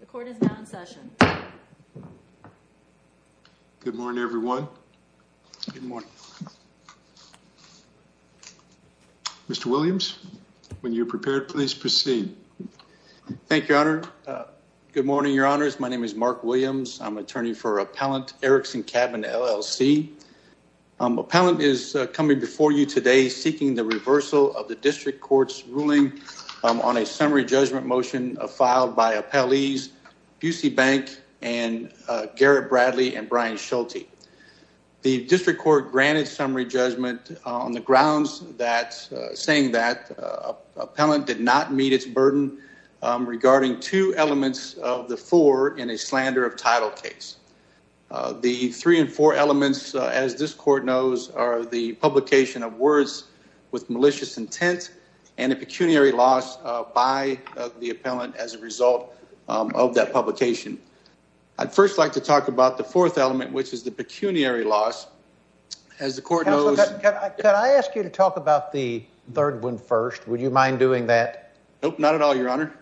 The court is now in session. Good morning everyone. Mr. Williams, when you're prepared, please proceed. Thank you, Your Honor. Good morning, Your Honors. My name is Mark Williams. I'm attorney for Appellant Erickson Cabin, LLC. Appellant is coming before you today seeking the reversal of the district court's ruling on a summary judgment motion filed by appellees Busey Bank and Garrett Bradley and Brian Schulte. The district court granted summary judgment on the grounds that, saying that, appellant did not meet its burden regarding two elements of the four in a slander of title case. The three and four elements, as this court knows, are the publication of words with malicious intent and a pecuniary loss by the appellant as a result of that publication. I'd first like to talk about the fourth element, which is the pecuniary loss. As the court knows... Counselor, can I ask you to talk about the third one first? Would you mind doing that? Nope, not at all, Your Honor.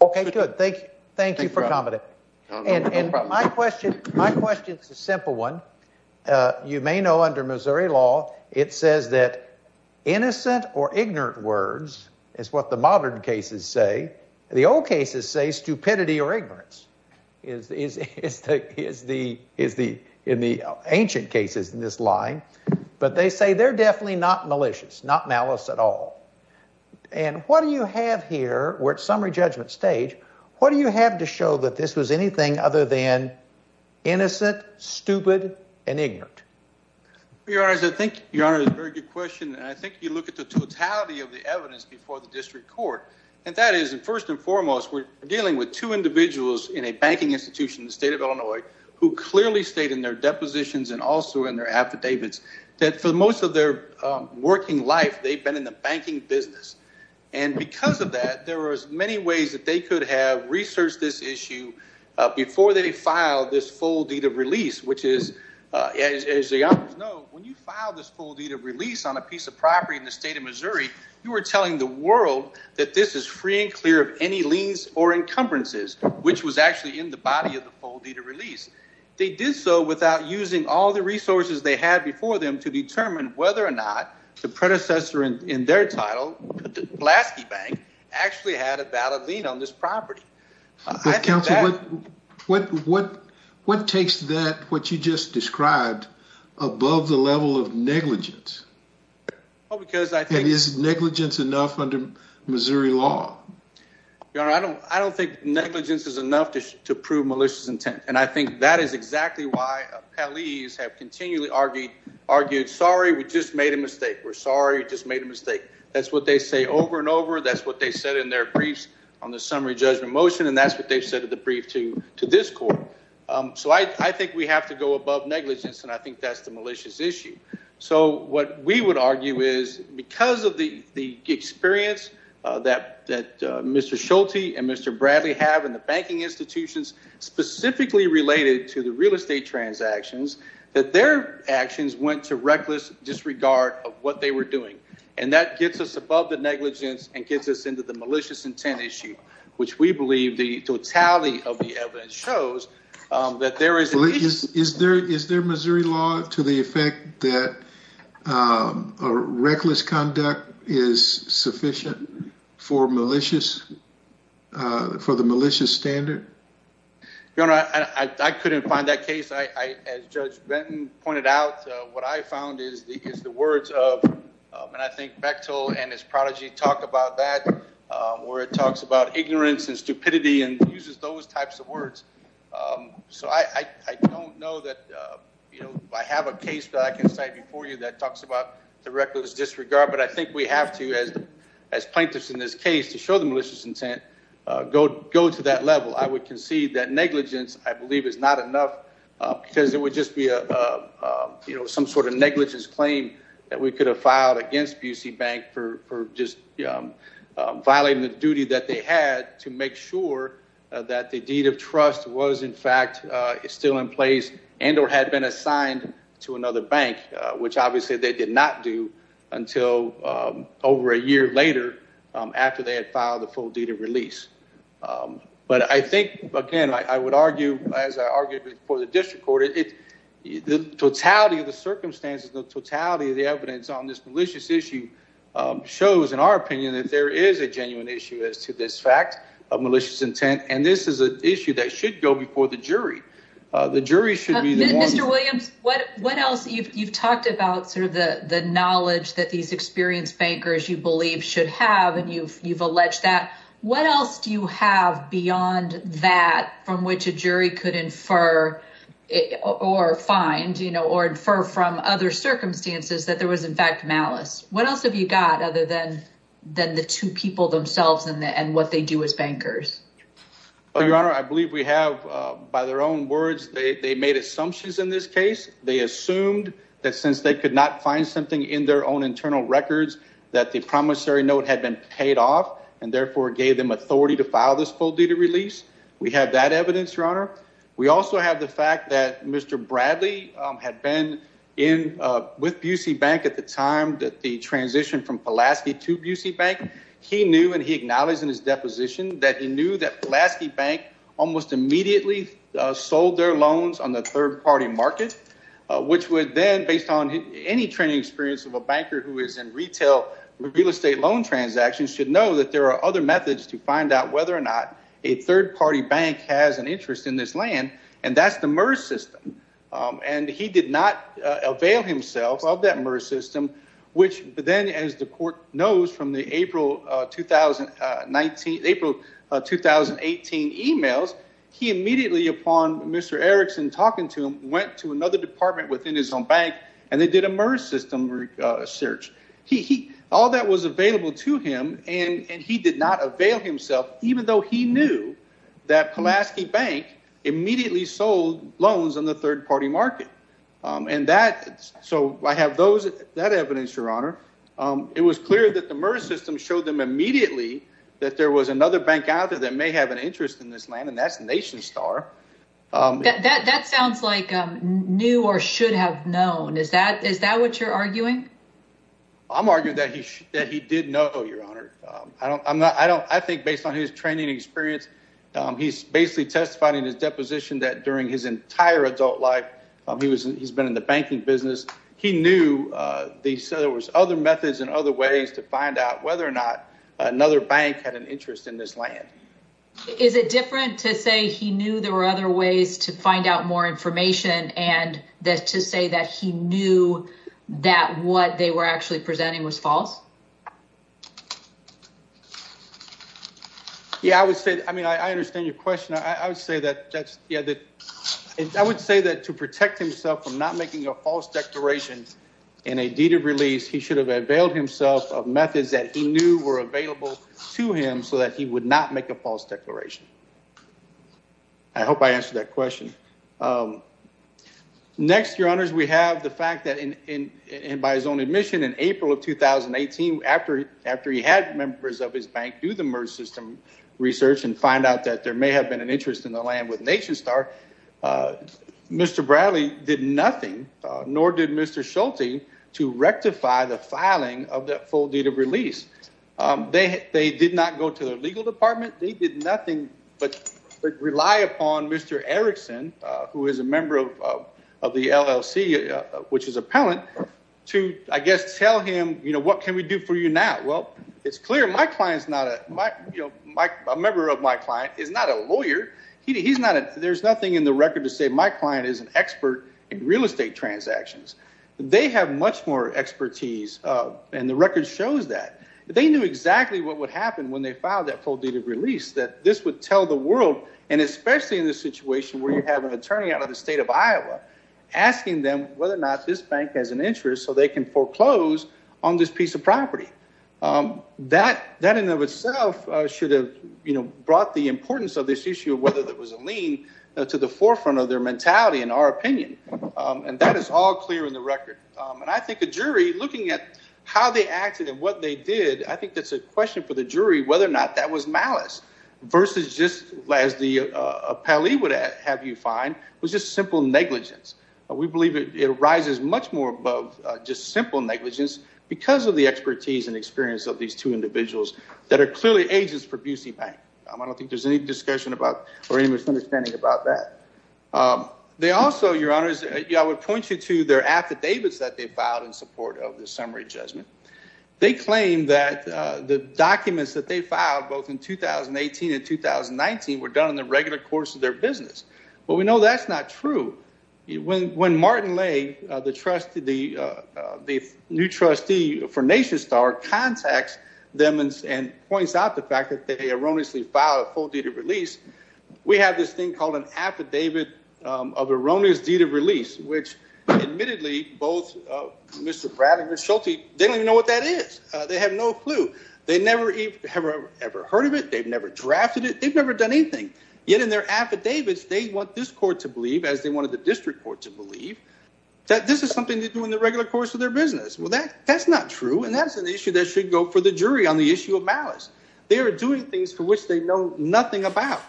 Okay, good. Thank you. Thank you for coming. And my question, my know, under Missouri law, it says that innocent or ignorant words is what the modern cases say. The old cases say stupidity or ignorance is the... ancient cases in this line. But they say they're definitely not malicious, not malice at all. And what do you have here, we're at summary judgment stage, what do you have to show that this was anything other than innocent, stupid, and ignorant? Your Honor, I think... Your Honor, that's a very good question. I think you look at the totality of the evidence before the district court. And that is, first and foremost, we're dealing with two individuals in a banking institution in the state of Illinois who clearly state in their depositions and also in their affidavits that for most of their working life they've been in the banking business. And because of that, there are as many ways that they could have When you file this full deed of release on a piece of property in the state of Missouri, you are telling the world that this is free and clear of any liens or encumbrances, which was actually in the body of the full deed of release. They did so without using all the resources they had before them to determine whether or not the predecessor in their title, Blaskey Bank, actually had a valid lien on this property. What takes that, what you just described, above the level of negligence? Is negligence enough under Missouri law? Your Honor, I don't think negligence is enough to prove malicious intent. And I think that is exactly why Pelley's have continually argued, sorry, we just made a mistake. We're sorry, just made a mistake. That's what they say over and over. That's what they said in their briefs on the summary judgment motion. And that's what they've said in the brief to this court. So I think we have to go above negligence and I think that's the malicious issue. So what we would argue is because of the experience that Mr. Schulte and Mr. Bradley have in the banking institutions, specifically related to the real estate transactions, that their actions went to reckless disregard of what they were doing. And that gets us above the negligence and gets us into the malicious intent issue, which we believe the totality of the evidence shows that there is... Is there Missouri law to the effect that a reckless conduct is sufficient for malicious, for the malicious standard? Your Honor, I couldn't find that case. As Judge Benton pointed out, what I found is the words of, and I think Bechtel and his prodigy talked about that, where it talks about ignorance and stupidity and uses those types of words. So I don't know that, you know, I have a case that I can cite before you that talks about the reckless disregard, but I think we have to, as plaintiffs in this case, to show the malicious intent, go to that level. I would concede that negligence, I believe, is not enough because it would just be a, you know, some sort of negligence claim that we could have filed against BC Bank for just violating the duty that they had to make sure that the deed of trust was in fact still in place and or had been assigned to another bank, which obviously they did not do until over a year later after they had filed the full deed of release. But I think, again, I would argue, as I argued for the district court, the totality of the circumstances, the totality of the evidence on this malicious issue shows, in our opinion, that there is a genuine issue as to this fact of malicious intent, and this is an issue that should go before the jury. The jury should be the one- Mr. Williams, what else? You've talked about sort of the knowledge that these experienced bankers, you believe, should have, and you've alleged that. What else do you have beyond that from which a jury could infer or find, you know, or infer from other circumstances that there was, in fact, malice? What else have you got other than the two people themselves and what they do as bankers? Well, Your Honor, I believe we have, by their own words, they made assumptions in this case. They assumed that since they could not find something in their own internal records, that the promissory note had been paid off and therefore gave them authority to file this full due to release. We have that evidence, Your Honor. We also have the fact that Mr. Bradley had been in with Bucy Bank at the time that the transition from Pulaski to Bucy Bank. He knew, and he acknowledged in his deposition, that he knew that Pulaski Bank almost immediately sold their loans on the third-party market, which would then, based on any training experience of a banker who is in retail real estate loan transactions, should know that there are other methods to find out whether or not a third-party bank has an interest in this land, and that's the MERS system. And he did not avail himself of that MERS system, which then, as the court knows from the April 2018 emails, he immediately, upon Mr. Erickson talking to him, went to another department within his own bank and they did a MERS system search. All that was available to him, and he did not avail himself, even though he knew that Pulaski Bank immediately sold loans on the third-party market. So I have that evidence, Your Honor. It was clear that the MERS system showed them immediately that there was another bank out there that may have an interest in this land, and that's Nation Star. That sounds like knew or should have known. Is that what you're arguing? I'm arguing that he did know, Your Honor. I think based on his training experience, he's basically testifying in his deposition that during his entire adult life, he's been in the banking business, he knew there was other methods and other ways to find out whether or not another bank had an other ways to find out more information and that to say that he knew that what they were actually presenting was false? Yeah, I would say, I mean, I understand your question. I would say that to protect himself from not making a false declaration in a deed of release, he should have availed himself of methods that he knew were available to him so that he would not make a false declaration. I hope I answered that question. Next, Your Honors, we have the fact that by his own admission in April of 2018, after he had members of his bank do the MERS system research and find out that there may have been an interest in the land with Nation Star, Mr. Bradley did nothing, nor did Mr. Schulte, to rectify the filing of that full deed of release. They did not go to the legal department. They did nothing but rely upon Mr. Erickson, who is a member of the LLC, which is appellant, to, I guess, tell him, you know, what can we do for you now? Well, it's clear my client's not a, you know, a member of my client is not a lawyer. He's not, there's nothing in the record to say my client is an expert in real expertise, and the record shows that. They knew exactly what would happen when they filed that full deed of release, that this would tell the world, and especially in this situation where you have an attorney out of the state of Iowa, asking them whether or not this bank has an interest so they can foreclose on this piece of property. That, in and of itself, should have, you know, brought the importance of this issue of whether there was a lien to the forefront of their mentality, in our opinion, and that is all clear in the jury. Looking at how they acted and what they did, I think that's a question for the jury whether or not that was malice, versus just, as the appellee would have you find, was just simple negligence. We believe it rises much more above just simple negligence because of the expertise and experience of these two individuals that are clearly agents for Busey Bank. I don't think there's any discussion about or any misunderstanding about that. They also, your honors, I know that they filed in support of the summary judgment. They claim that the documents that they filed, both in 2018 and 2019, were done in the regular course of their business, but we know that's not true. When Martin Lay, the trustee, the new trustee for NationStar, contacts them and points out the fact that they erroneously filed a full deed of release, we have this thing called an Mr. Pratt and Ms. Schulte, they don't even know what that is. They have no clue. They never ever heard of it. They've never drafted it. They've never done anything. Yet in their affidavits, they want this court to believe, as they wanted the district court to believe, that this is something they do in the regular course of their business. Well, that's not true and that's an issue that should go for the jury on the issue of malice. They are doing things for which they know nothing about,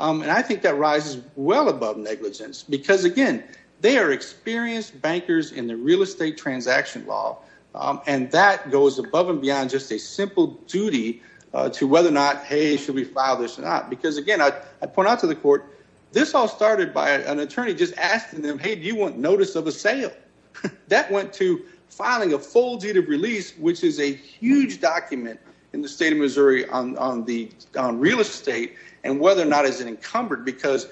and I think that rises well above negligence because, again, they are experienced bankers in the real estate transaction law, and that goes above and beyond just a simple duty to whether or not, hey, should we file this or not? Because, again, I point out to the court, this all started by an attorney just asking them, hey, do you want notice of a sale? That went to filing a full deed of release, which is a huge document in the state of Missouri on real estate and whether or not it is encumbered, because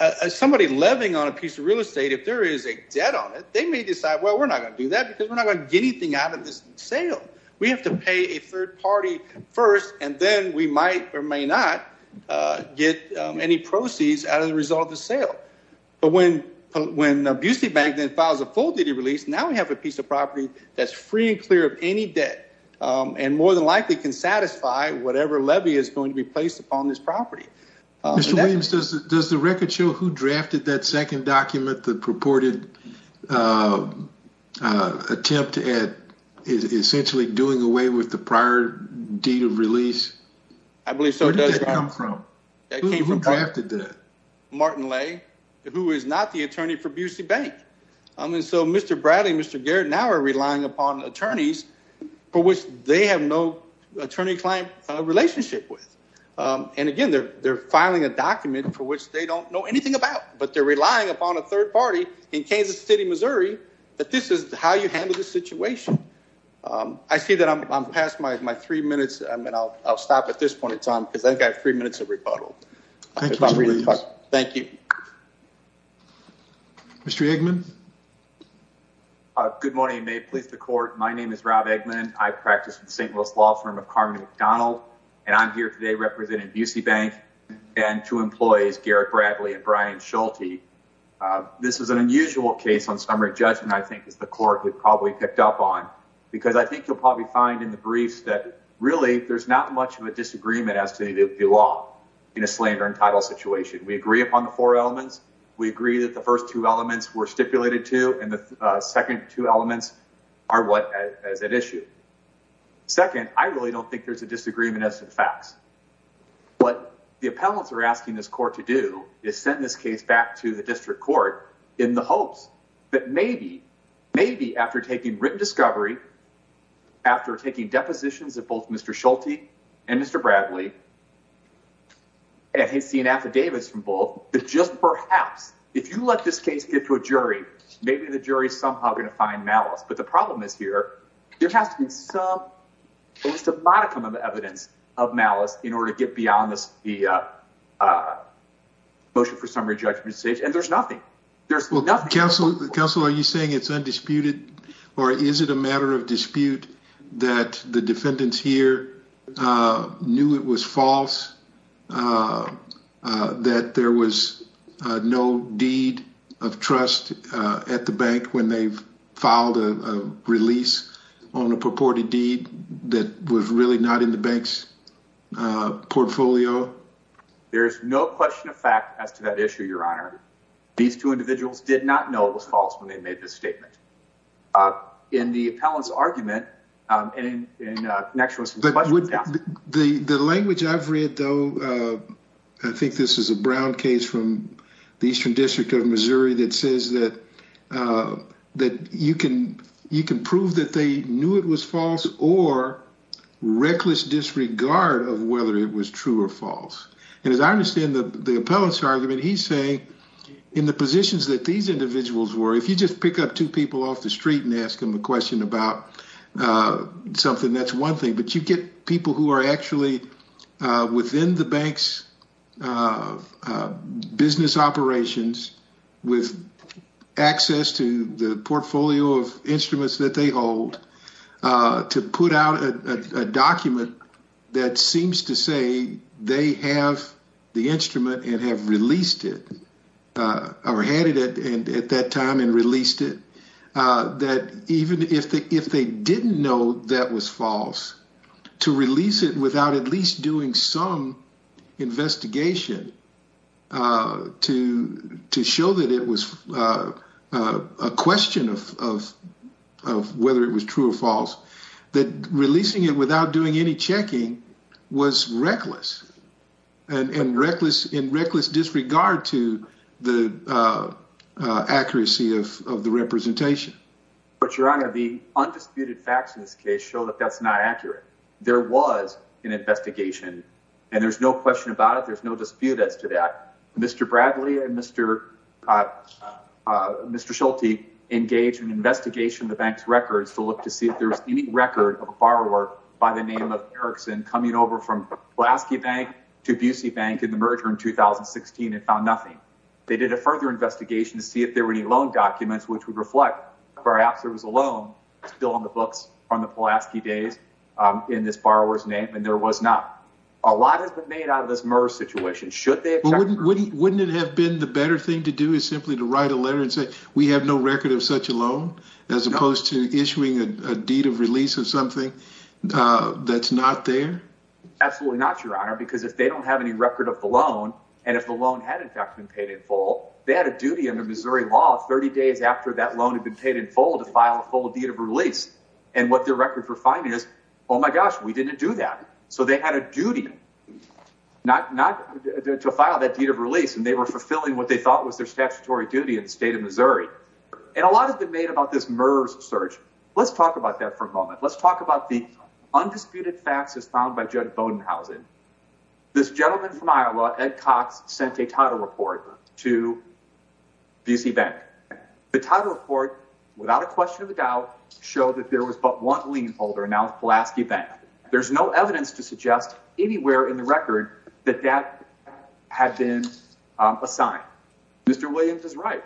as somebody levying on a piece of real estate, if there is a debt on it, they may decide, well, we're not going to do that because we're not going to get anything out of this sale. We have to pay a third party first, and then we might or may not get any proceeds out of the result of the sale. But when Busey Bank then files a full duty release, now we have a piece of property that's free and clear of any debt and more than likely can satisfy whatever levy is going to be placed upon this property. Mr. Williams, does the record show who drafted that second document, the purported attempt at essentially doing away with the prior deed of release? I believe so. Where did that come from? Who drafted that? Martin Lay, who is not the attorney for Busey Bank. And so Mr. Bradley and Mr. Garrett now are relying upon attorneys for which they have no attorney-client relationship with. And again, they're filing a document for which they don't know anything about, but they're relying upon a third party in Kansas City, Missouri, that this is how you handle this situation. I see that I'm past my three minutes. I mean, I'll stop at this point in time because I think I have three minutes of rebuttal. Thank you. Mr. Eggman? Good morning. May it please the court. My name is Rob Eggman. I practice with the St. Louis law firm of Carmen McDonald, and I'm here today representing Busey Bank and two employees, Garrett Bradley and Brian Schulte. This is an unusual case on summary judgment, I think, as the court had probably picked up on, because I think you'll probably find in the briefs that really there's not much of a disagreement as to the law in a slander and title situation. We agree upon the four elements. We agree that the first two elements were stipulated to, and the second two elements are what is at issue. Second, I really don't think there's a disagreement as to the facts. What the appellants are asking this court to do is send this case back to the district court in the hopes that maybe, maybe after taking written discovery, after taking depositions of both Mr. Schulte and Mr. Bradley, and he's seen affidavits from both, that just perhaps, if you let this case get to a jury, maybe the jury is somehow going to find malice. But the problem is here, there has to be some, at least a modicum of evidence of malice in order to get beyond this, the motion for summary judgment stage, and there's nothing. There's nothing. Counsel, are you saying it's undisputed, or is it a matter of dispute that the no deed of trust at the bank when they've filed a release on a purported deed that was really not in the bank's portfolio? There's no question of fact as to that issue, Your Honor. These two individuals did not know it was false when they made this statement. In the appellant's argument, and in connection with some questions... The language I've read, though, I think this is a the Eastern District of Missouri that says that you can prove that they knew it was false or reckless disregard of whether it was true or false. And as I understand the appellant's argument, he's saying in the positions that these individuals were, if you just pick up two people off the street and ask them a question about something, that's one thing, but you get people who are actually within the bank's business operations with access to the portfolio of instruments that they hold to put out a document that seems to say they have the instrument and have released it, or had it at that time and released it, that even if they didn't know that was false, to release it without at least doing some investigation to show that it was a question of whether it was true or false, that releasing it without doing any checking was reckless and in reckless disregard to the accuracy of the representation. But, Your Honor, the undisputed facts in this case show that that's not accurate. There was an investigation, and there's no question about it, there's no dispute as to that. Mr. Bradley and Mr. Schulte engaged in an investigation of the bank's records to look to see if there was any record of a borrower by the name of Erickson coming over from Pulaski Bank to Busey Bank in the merger in 2016 and found nothing. They did a further investigation to see if there were any loan documents which would reflect perhaps there was a loan still on the books from the Pulaski days in this borrower's name, and there was not. A lot has been made out of this MERS situation. Shouldn't they have checked first? Wouldn't it have been the better thing to do is simply to write a letter and say we have no record of such a loan, as opposed to issuing a deed of release of a loan that's not there? Absolutely not, Your Honor, because if they don't have any record of the loan, and if the loan had in fact been paid in full, they had a duty under Missouri law 30 days after that loan had been paid in full to file a full deed of release, and what their record for finding is, oh my gosh, we didn't do that. So they had a duty to file that deed of release, and they were fulfilling what they thought was their statutory duty in the state of Missouri. And a lot has been made about this MERS search. Let's talk about that for a moment. Let's talk about the undisputed facts as found by Judd Bodenhausen. This gentleman from Iowa, Ed Cox, sent a title report to BC Bank. The title report, without a question of a doubt, showed that there was but one lien holder, and that was Pulaski Bank. There's no evidence to suggest anywhere in the record that that had been assigned. Mr. Williams is right.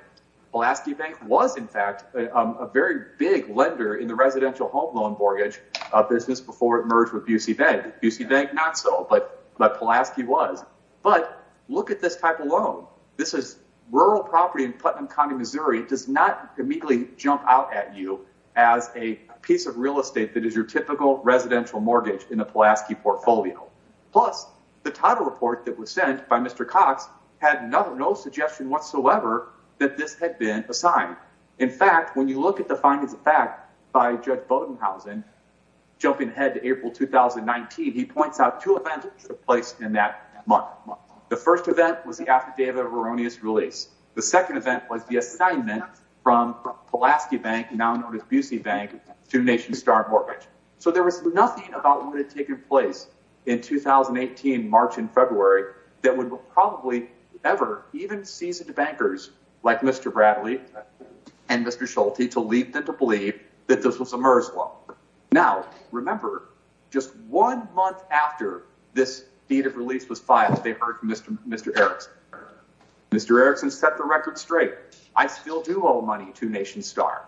Pulaski Bank was, in fact, a very big lender in the residential home loan mortgage business before it merged with BC Bank. BC Bank, not so, but Pulaski was. But look at this type of loan. This is rural property in Putnam County, Missouri. It does not immediately jump out at you as a piece of real estate that is your typical residential mortgage in a Pulaski portfolio. Plus, the title report that was sent by Mr. Cox had no suggestion whatsoever that this had been assigned. In fact, when you look at the findings of fact by Judge Bodenhausen, jumping ahead to April 2019, he points out two events that took place in that month. The first event was the affidavit of erroneous release. The second event was the assignment from Pulaski Bank, now known as BC Bank, to Nation Star Mortgage. So there was nothing about what had taken place in 2018, March and February, that would probably ever even seize the bankers like Mr. Bradley and Mr. Schulte to lead them to believe that this was a MERS loan. Now, remember, just one month after this deed of release was filed, they heard from Mr. Erickson. Mr. Erickson set the record straight. I still do owe money to Nation Star.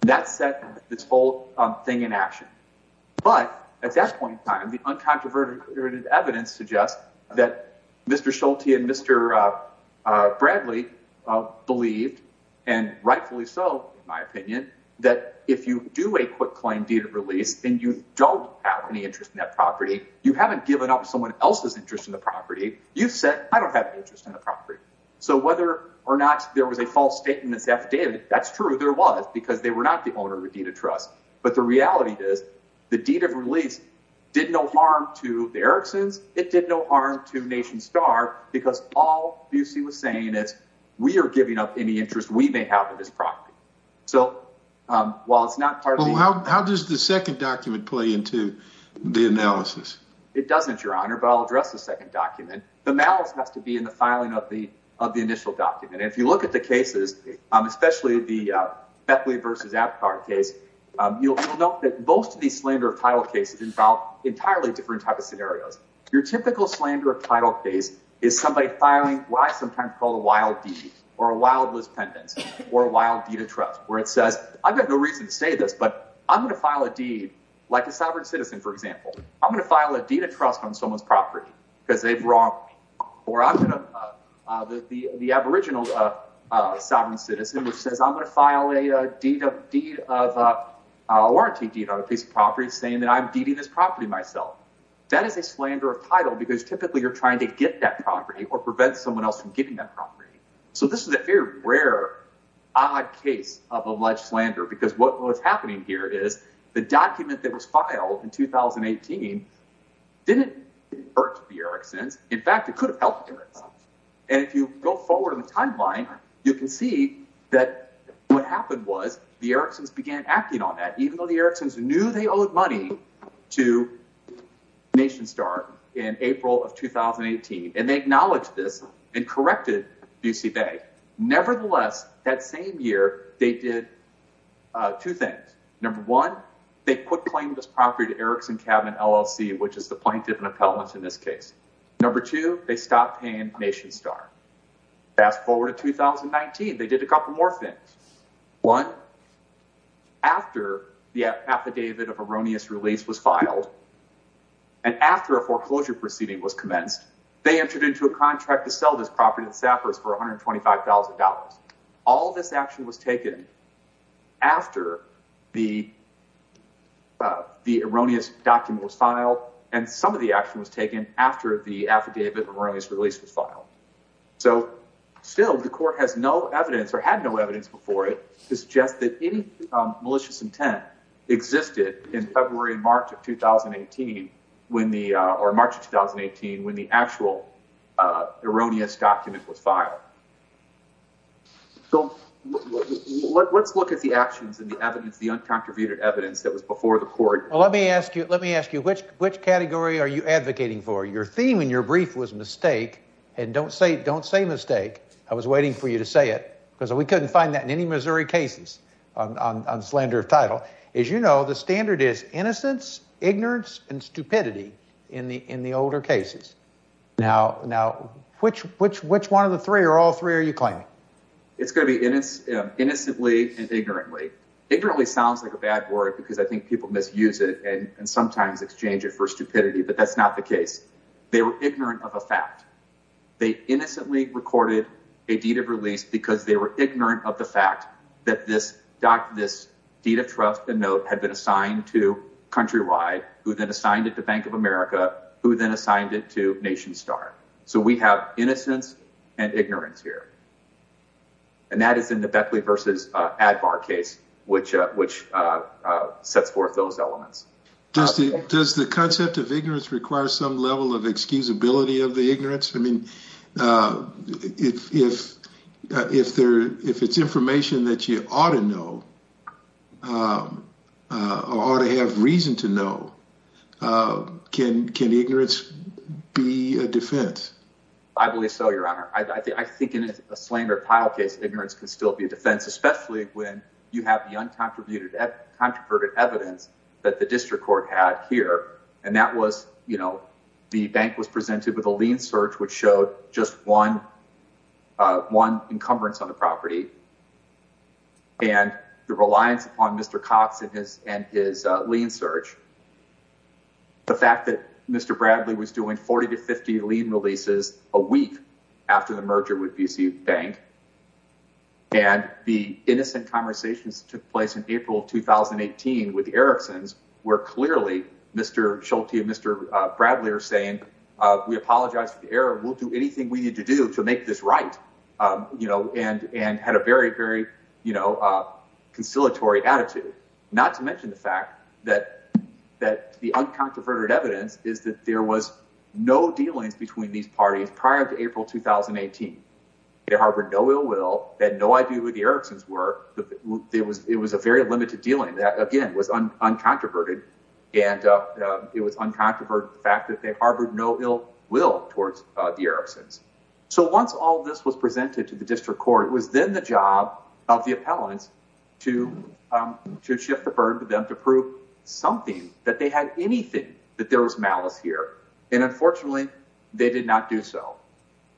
That set this whole thing in action. But at that point in time, the uncontroverted evidence suggests that Mr. Schulte and Mr. Bradley believed, and rightfully so, in my opinion, that if you do a quick claim deed of release and you don't have any interest in that property, you haven't given up someone else's interest in the property, you've said, I don't have an interest in the property. So whether or not there was a false statement that's affidavit, that's true, there was, because they were not the owner of the deed of trust. But the reality is, the deed of release did no harm to Nation Star, because all Busey was saying is, we are giving up any interest we may have in this property. So while it's not part of the... Well, how does the second document play into the analysis? It doesn't, Your Honor, but I'll address the second document. The malice has to be in the filing of the initial document. And if you look at the cases, especially the Bethlehem v. Epcot case, you'll note that most of these slander of title cases involve entirely different types of scenarios. Your typical slander of title case is somebody filing what I sometimes call a wild deed, or a wildless pendants, or a wild deed of trust, where it says, I've got no reason to say this, but I'm gonna file a deed, like a sovereign citizen, for example, I'm gonna file a deed of trust on someone's property, because they've wronged me. Or I'm gonna, the aboriginal sovereign citizen, which says, I'm gonna file a deed of, a warranty deed on a piece of property, saying that I'm deeding this property myself. That is a slander of title, because typically you're trying to get that property, or prevent someone else from getting that property. So this is a very rare, odd case of alleged slander, because what was happening here is, the document that was filed in 2018 didn't hurt the Eriksons. In fact, it could have helped the Eriksons. And if you go forward in the timeline, you can see that what happened was, the knew they owed money to NationStar in April of 2018, and they acknowledged this, and corrected BC Bay. Nevertheless, that same year, they did two things. Number one, they quit claiming this property to Erikson Cabin LLC, which is the plaintiff and appellants in this case. Number two, they stopped paying NationStar. Fast the affidavit of erroneous release was filed, and after a foreclosure proceeding was commenced, they entered into a contract to sell this property to Sappers for $125,000. All this action was taken after the erroneous document was filed, and some of the action was taken after the affidavit of erroneous release was filed. So still, the court has no evidence, or had no evidence before it, to that it existed in February and March of 2018, or March of 2018, when the actual erroneous document was filed. So let's look at the actions and the evidence, the uncontributed evidence that was before the court. Let me ask you, let me ask you, which category are you advocating for? Your theme in your brief was mistake, and don't say don't say mistake. I was waiting for you to say it, because we couldn't find that in any Missouri cases on slander of title. As you know, the standard is innocence, ignorance, and stupidity in the older cases. Now, which one of the three, or all three, are you claiming? It's going to be innocently and ignorantly. Ignorantly sounds like a bad word, because I think people misuse it, and sometimes exchange it for stupidity, but that's not the case. They were ignorant of a fact. They innocently recorded a deed of release, because they were ignorant of the fact that this deed of trust and note had been assigned to Countrywide, who then assigned it to Bank of America, who then assigned it to Nation Star. So we have innocence and ignorance here, and that is in the Beckley versus Advar case, which sets forth those elements. Does the concept of ignorance require some level of excusability of the ignorance? I mean, if it's information that you ought to know, or ought to have reason to know, can ignorance be a defense? I believe so, Your Honor. I think in a slander of title case, ignorance can still be a defense, especially when you have the uncontroverted evidence that the district court had here, and that was, you know, the bank was presented with a lien search, which showed just one encumbrance on the property, and the reliance on Mr. Cox and his lien search, the fact that Mr. Bradley was doing 40 to 50 lien releases a week after the merger with BC Bank, and the innocent conversations took place in April 2018 with the Erickson's, where clearly Mr. Schulte and Mr. Bradley are saying, we apologize for the error. We'll do anything we need to do to make this right, you know, and had a very, very, you know, conciliatory attitude, not to mention the fact that the uncontroverted evidence is that there was no dealings between these parties prior to April 2018. They harbored no ill will, had no idea who the Erickson's were. It was a very limited dealing that, again, was uncontroverted, and it was uncontroverted the fact that they district court. It was then the job of the appellants to shift the burden to them to prove something, that they had anything that there was malice here, and unfortunately, they did not do so.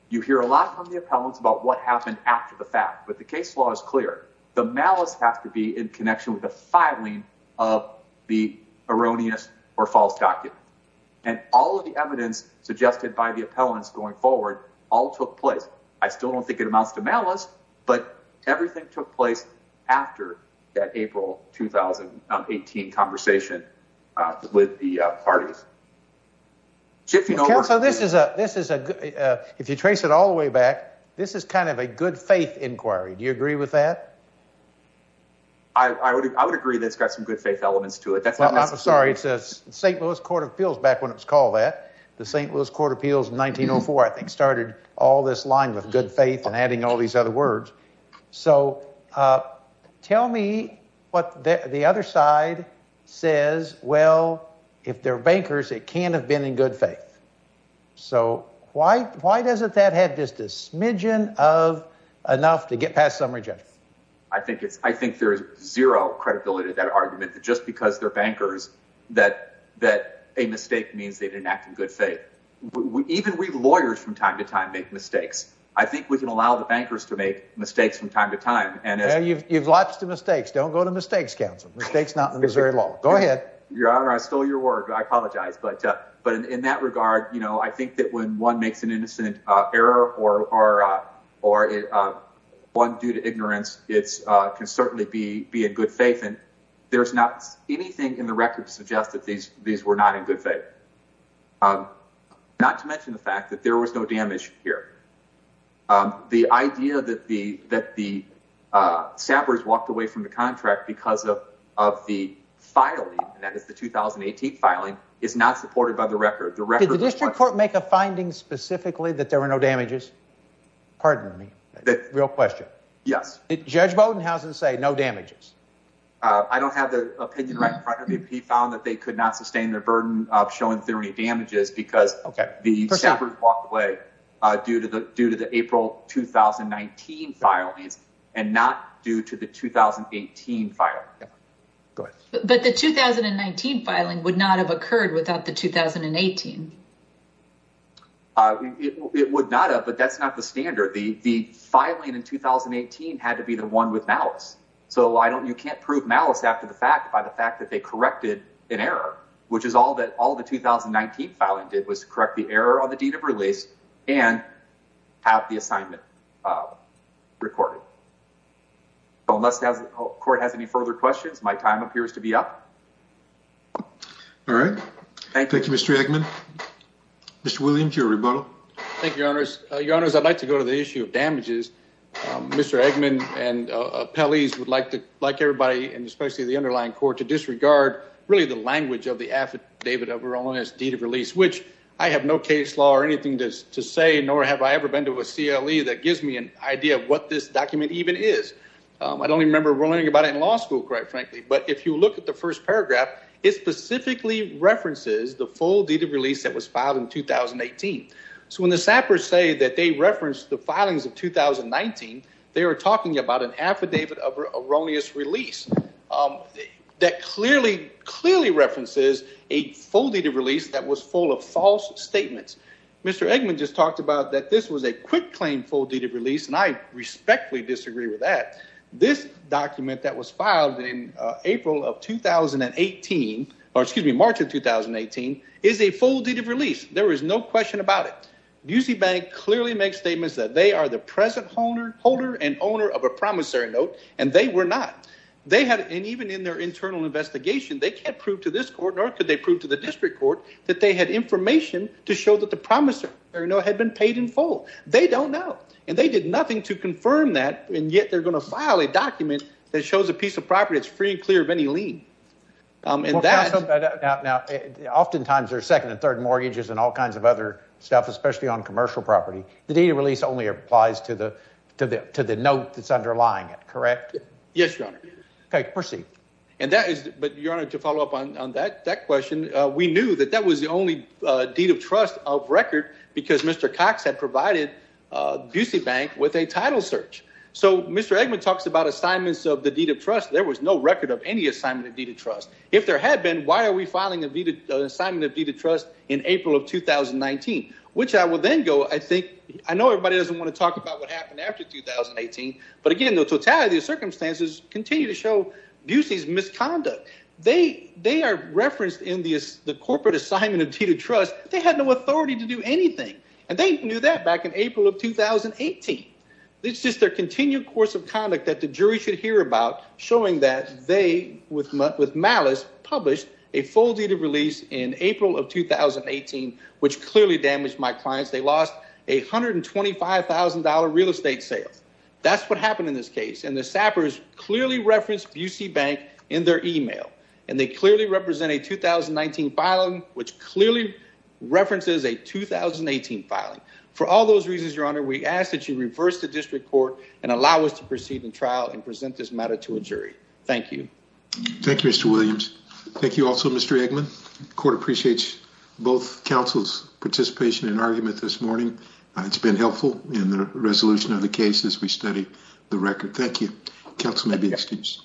You hear a lot from the appellants about what happened after the fact, but the case law is clear. The malice has to be in connection with the filing of the erroneous or false document, and all of the evidence suggested by the appellants going forward all took place. I still don't think it amounts to malice, but everything took place after that April 2018 conversation with the parties. So this is a this is a if you trace it all the way back, this is kind of a good faith inquiry. Do you agree with that? I would. I would agree that's got some good faith elements to it. That's not sorry. It's a St. Louis Court of Appeals back when it's called that the St. Louis Court of Appeals in 1904, I think, started all this line with good faith and adding all these other words. So tell me what the other side says. Well, if they're bankers, it can have been in good faith. So why? Why doesn't that have just a smidgen of enough to get past some rejection? I think it's I think there's zero credibility to that argument that just because they're bankers that that a mistake means they didn't act in good faith. Even we lawyers from time to time make mistakes. I think we can allow the bankers to make mistakes from time to time. And you've lost two mistakes. Don't go to mistakes. Council mistakes. Not Missouri law. Go ahead. Your Honor, I stole your word. I apologize. But but in that regard, you know, I think that when one makes an innocent error or or or one due to ignorance, it's can there's not anything in the record to suggest that these these were not in good faith, not to mention the fact that there was no damage here. The idea that the that the sappers walked away from the contract because of of the filing that is the 2018 filing is not supported by the record. The record district court make a finding specifically that there were no damages. Pardon me. Real question. Yes. Judge Bowden. How's it say? No damages. I don't have the opinion right in front of me. He found that they could not sustain their burden of showing theory damages because the sappers walked away due to the due to the April 2019 filings and not due to the 2018 fire. But the 2019 filing would not have occurred without the 2018. It would not have. But that's not the standard. The filing in 2018 had to be the one with malice. So why don't you can't prove malice after the fact by the fact that they corrected an error, which is all that all the 2019 filing did was correct the error on the date of release and have the assignment recorded. Unless the court has any further questions, my time appears to be up. All right. Thank you, Mr Eggman. Mr Williams, your rebuttal. Thank you, Mr Eggman. And Pelley's would like to like everybody and especially the underlying court to disregard really the language of the affidavit of her own as deed of release, which I have no case law or anything to say, nor have I ever been to a CLE that gives me an idea of what this document even is. I don't remember learning about it in law school, quite frankly. But if you look at the first paragraph, it specifically references the full deed of release that was filed in 2018. So when the sappers say that they reference the filings of 2019, they were talking about an affidavit of erroneous release that clearly, clearly references a full deed of release that was full of false statements. Mr Eggman just talked about that this was a quick claim full deed of release, and I respectfully disagree with that. This document that was filed in April of 2018 or excuse me, March of 2018 is a full deed of release. There is no question about it. UC Bank clearly makes statements that they are the present holder and owner of a promissory note, and they were not. They had, and even in their internal investigation, they can't prove to this court nor could they prove to the district court that they had information to show that the promissory note had been paid in full. They don't know, and they did nothing to confirm that, and yet they're gonna file a document that shows a piece of property that's free and clear of any lien. Now, oftentimes there's second and third mortgages and all kinds of other stuff, especially on commercial property. The deed of release only applies to the note that's underlying it, correct? Yes, Your Honor. Okay, proceed. And that is, but Your Honor, to follow up on that question, we knew that that was the only deed of trust of record because Mr. Cox had provided UC Bank with a title search. So Mr. Eggman talks about assignments of the deed of trust. There was no record of any assignment of deed of trust. If there had been, why are we filing an assignment of deed of trust in April of 2019? Which I will then go, I think, I know everybody doesn't want to talk about what happened after 2018, but again, the totality of circumstances continue to show Busey's misconduct. They are referenced in the corporate assignment of deed of trust. They had no authority to do anything, and they knew that back in April of 2018. It's just their continued course of conduct that the jury should hear about, showing that they, with April of 2018, which clearly damaged my clients, they lost a $125,000 real estate sales. That's what happened in this case, and the Sappers clearly referenced Busey Bank in their email, and they clearly represent a 2019 filing, which clearly references a 2018 filing. For all those reasons, Your Honor, we ask that you reverse the district court and allow us to proceed in trial and present this matter to a jury. Thank you. Thank you, Mr. Williams. Thank you also, Mr. Eggman. The court appreciates both counsel's participation and argument this morning. It's been helpful in the resolution of the case as we study the record. Thank you. Counsel may be excused.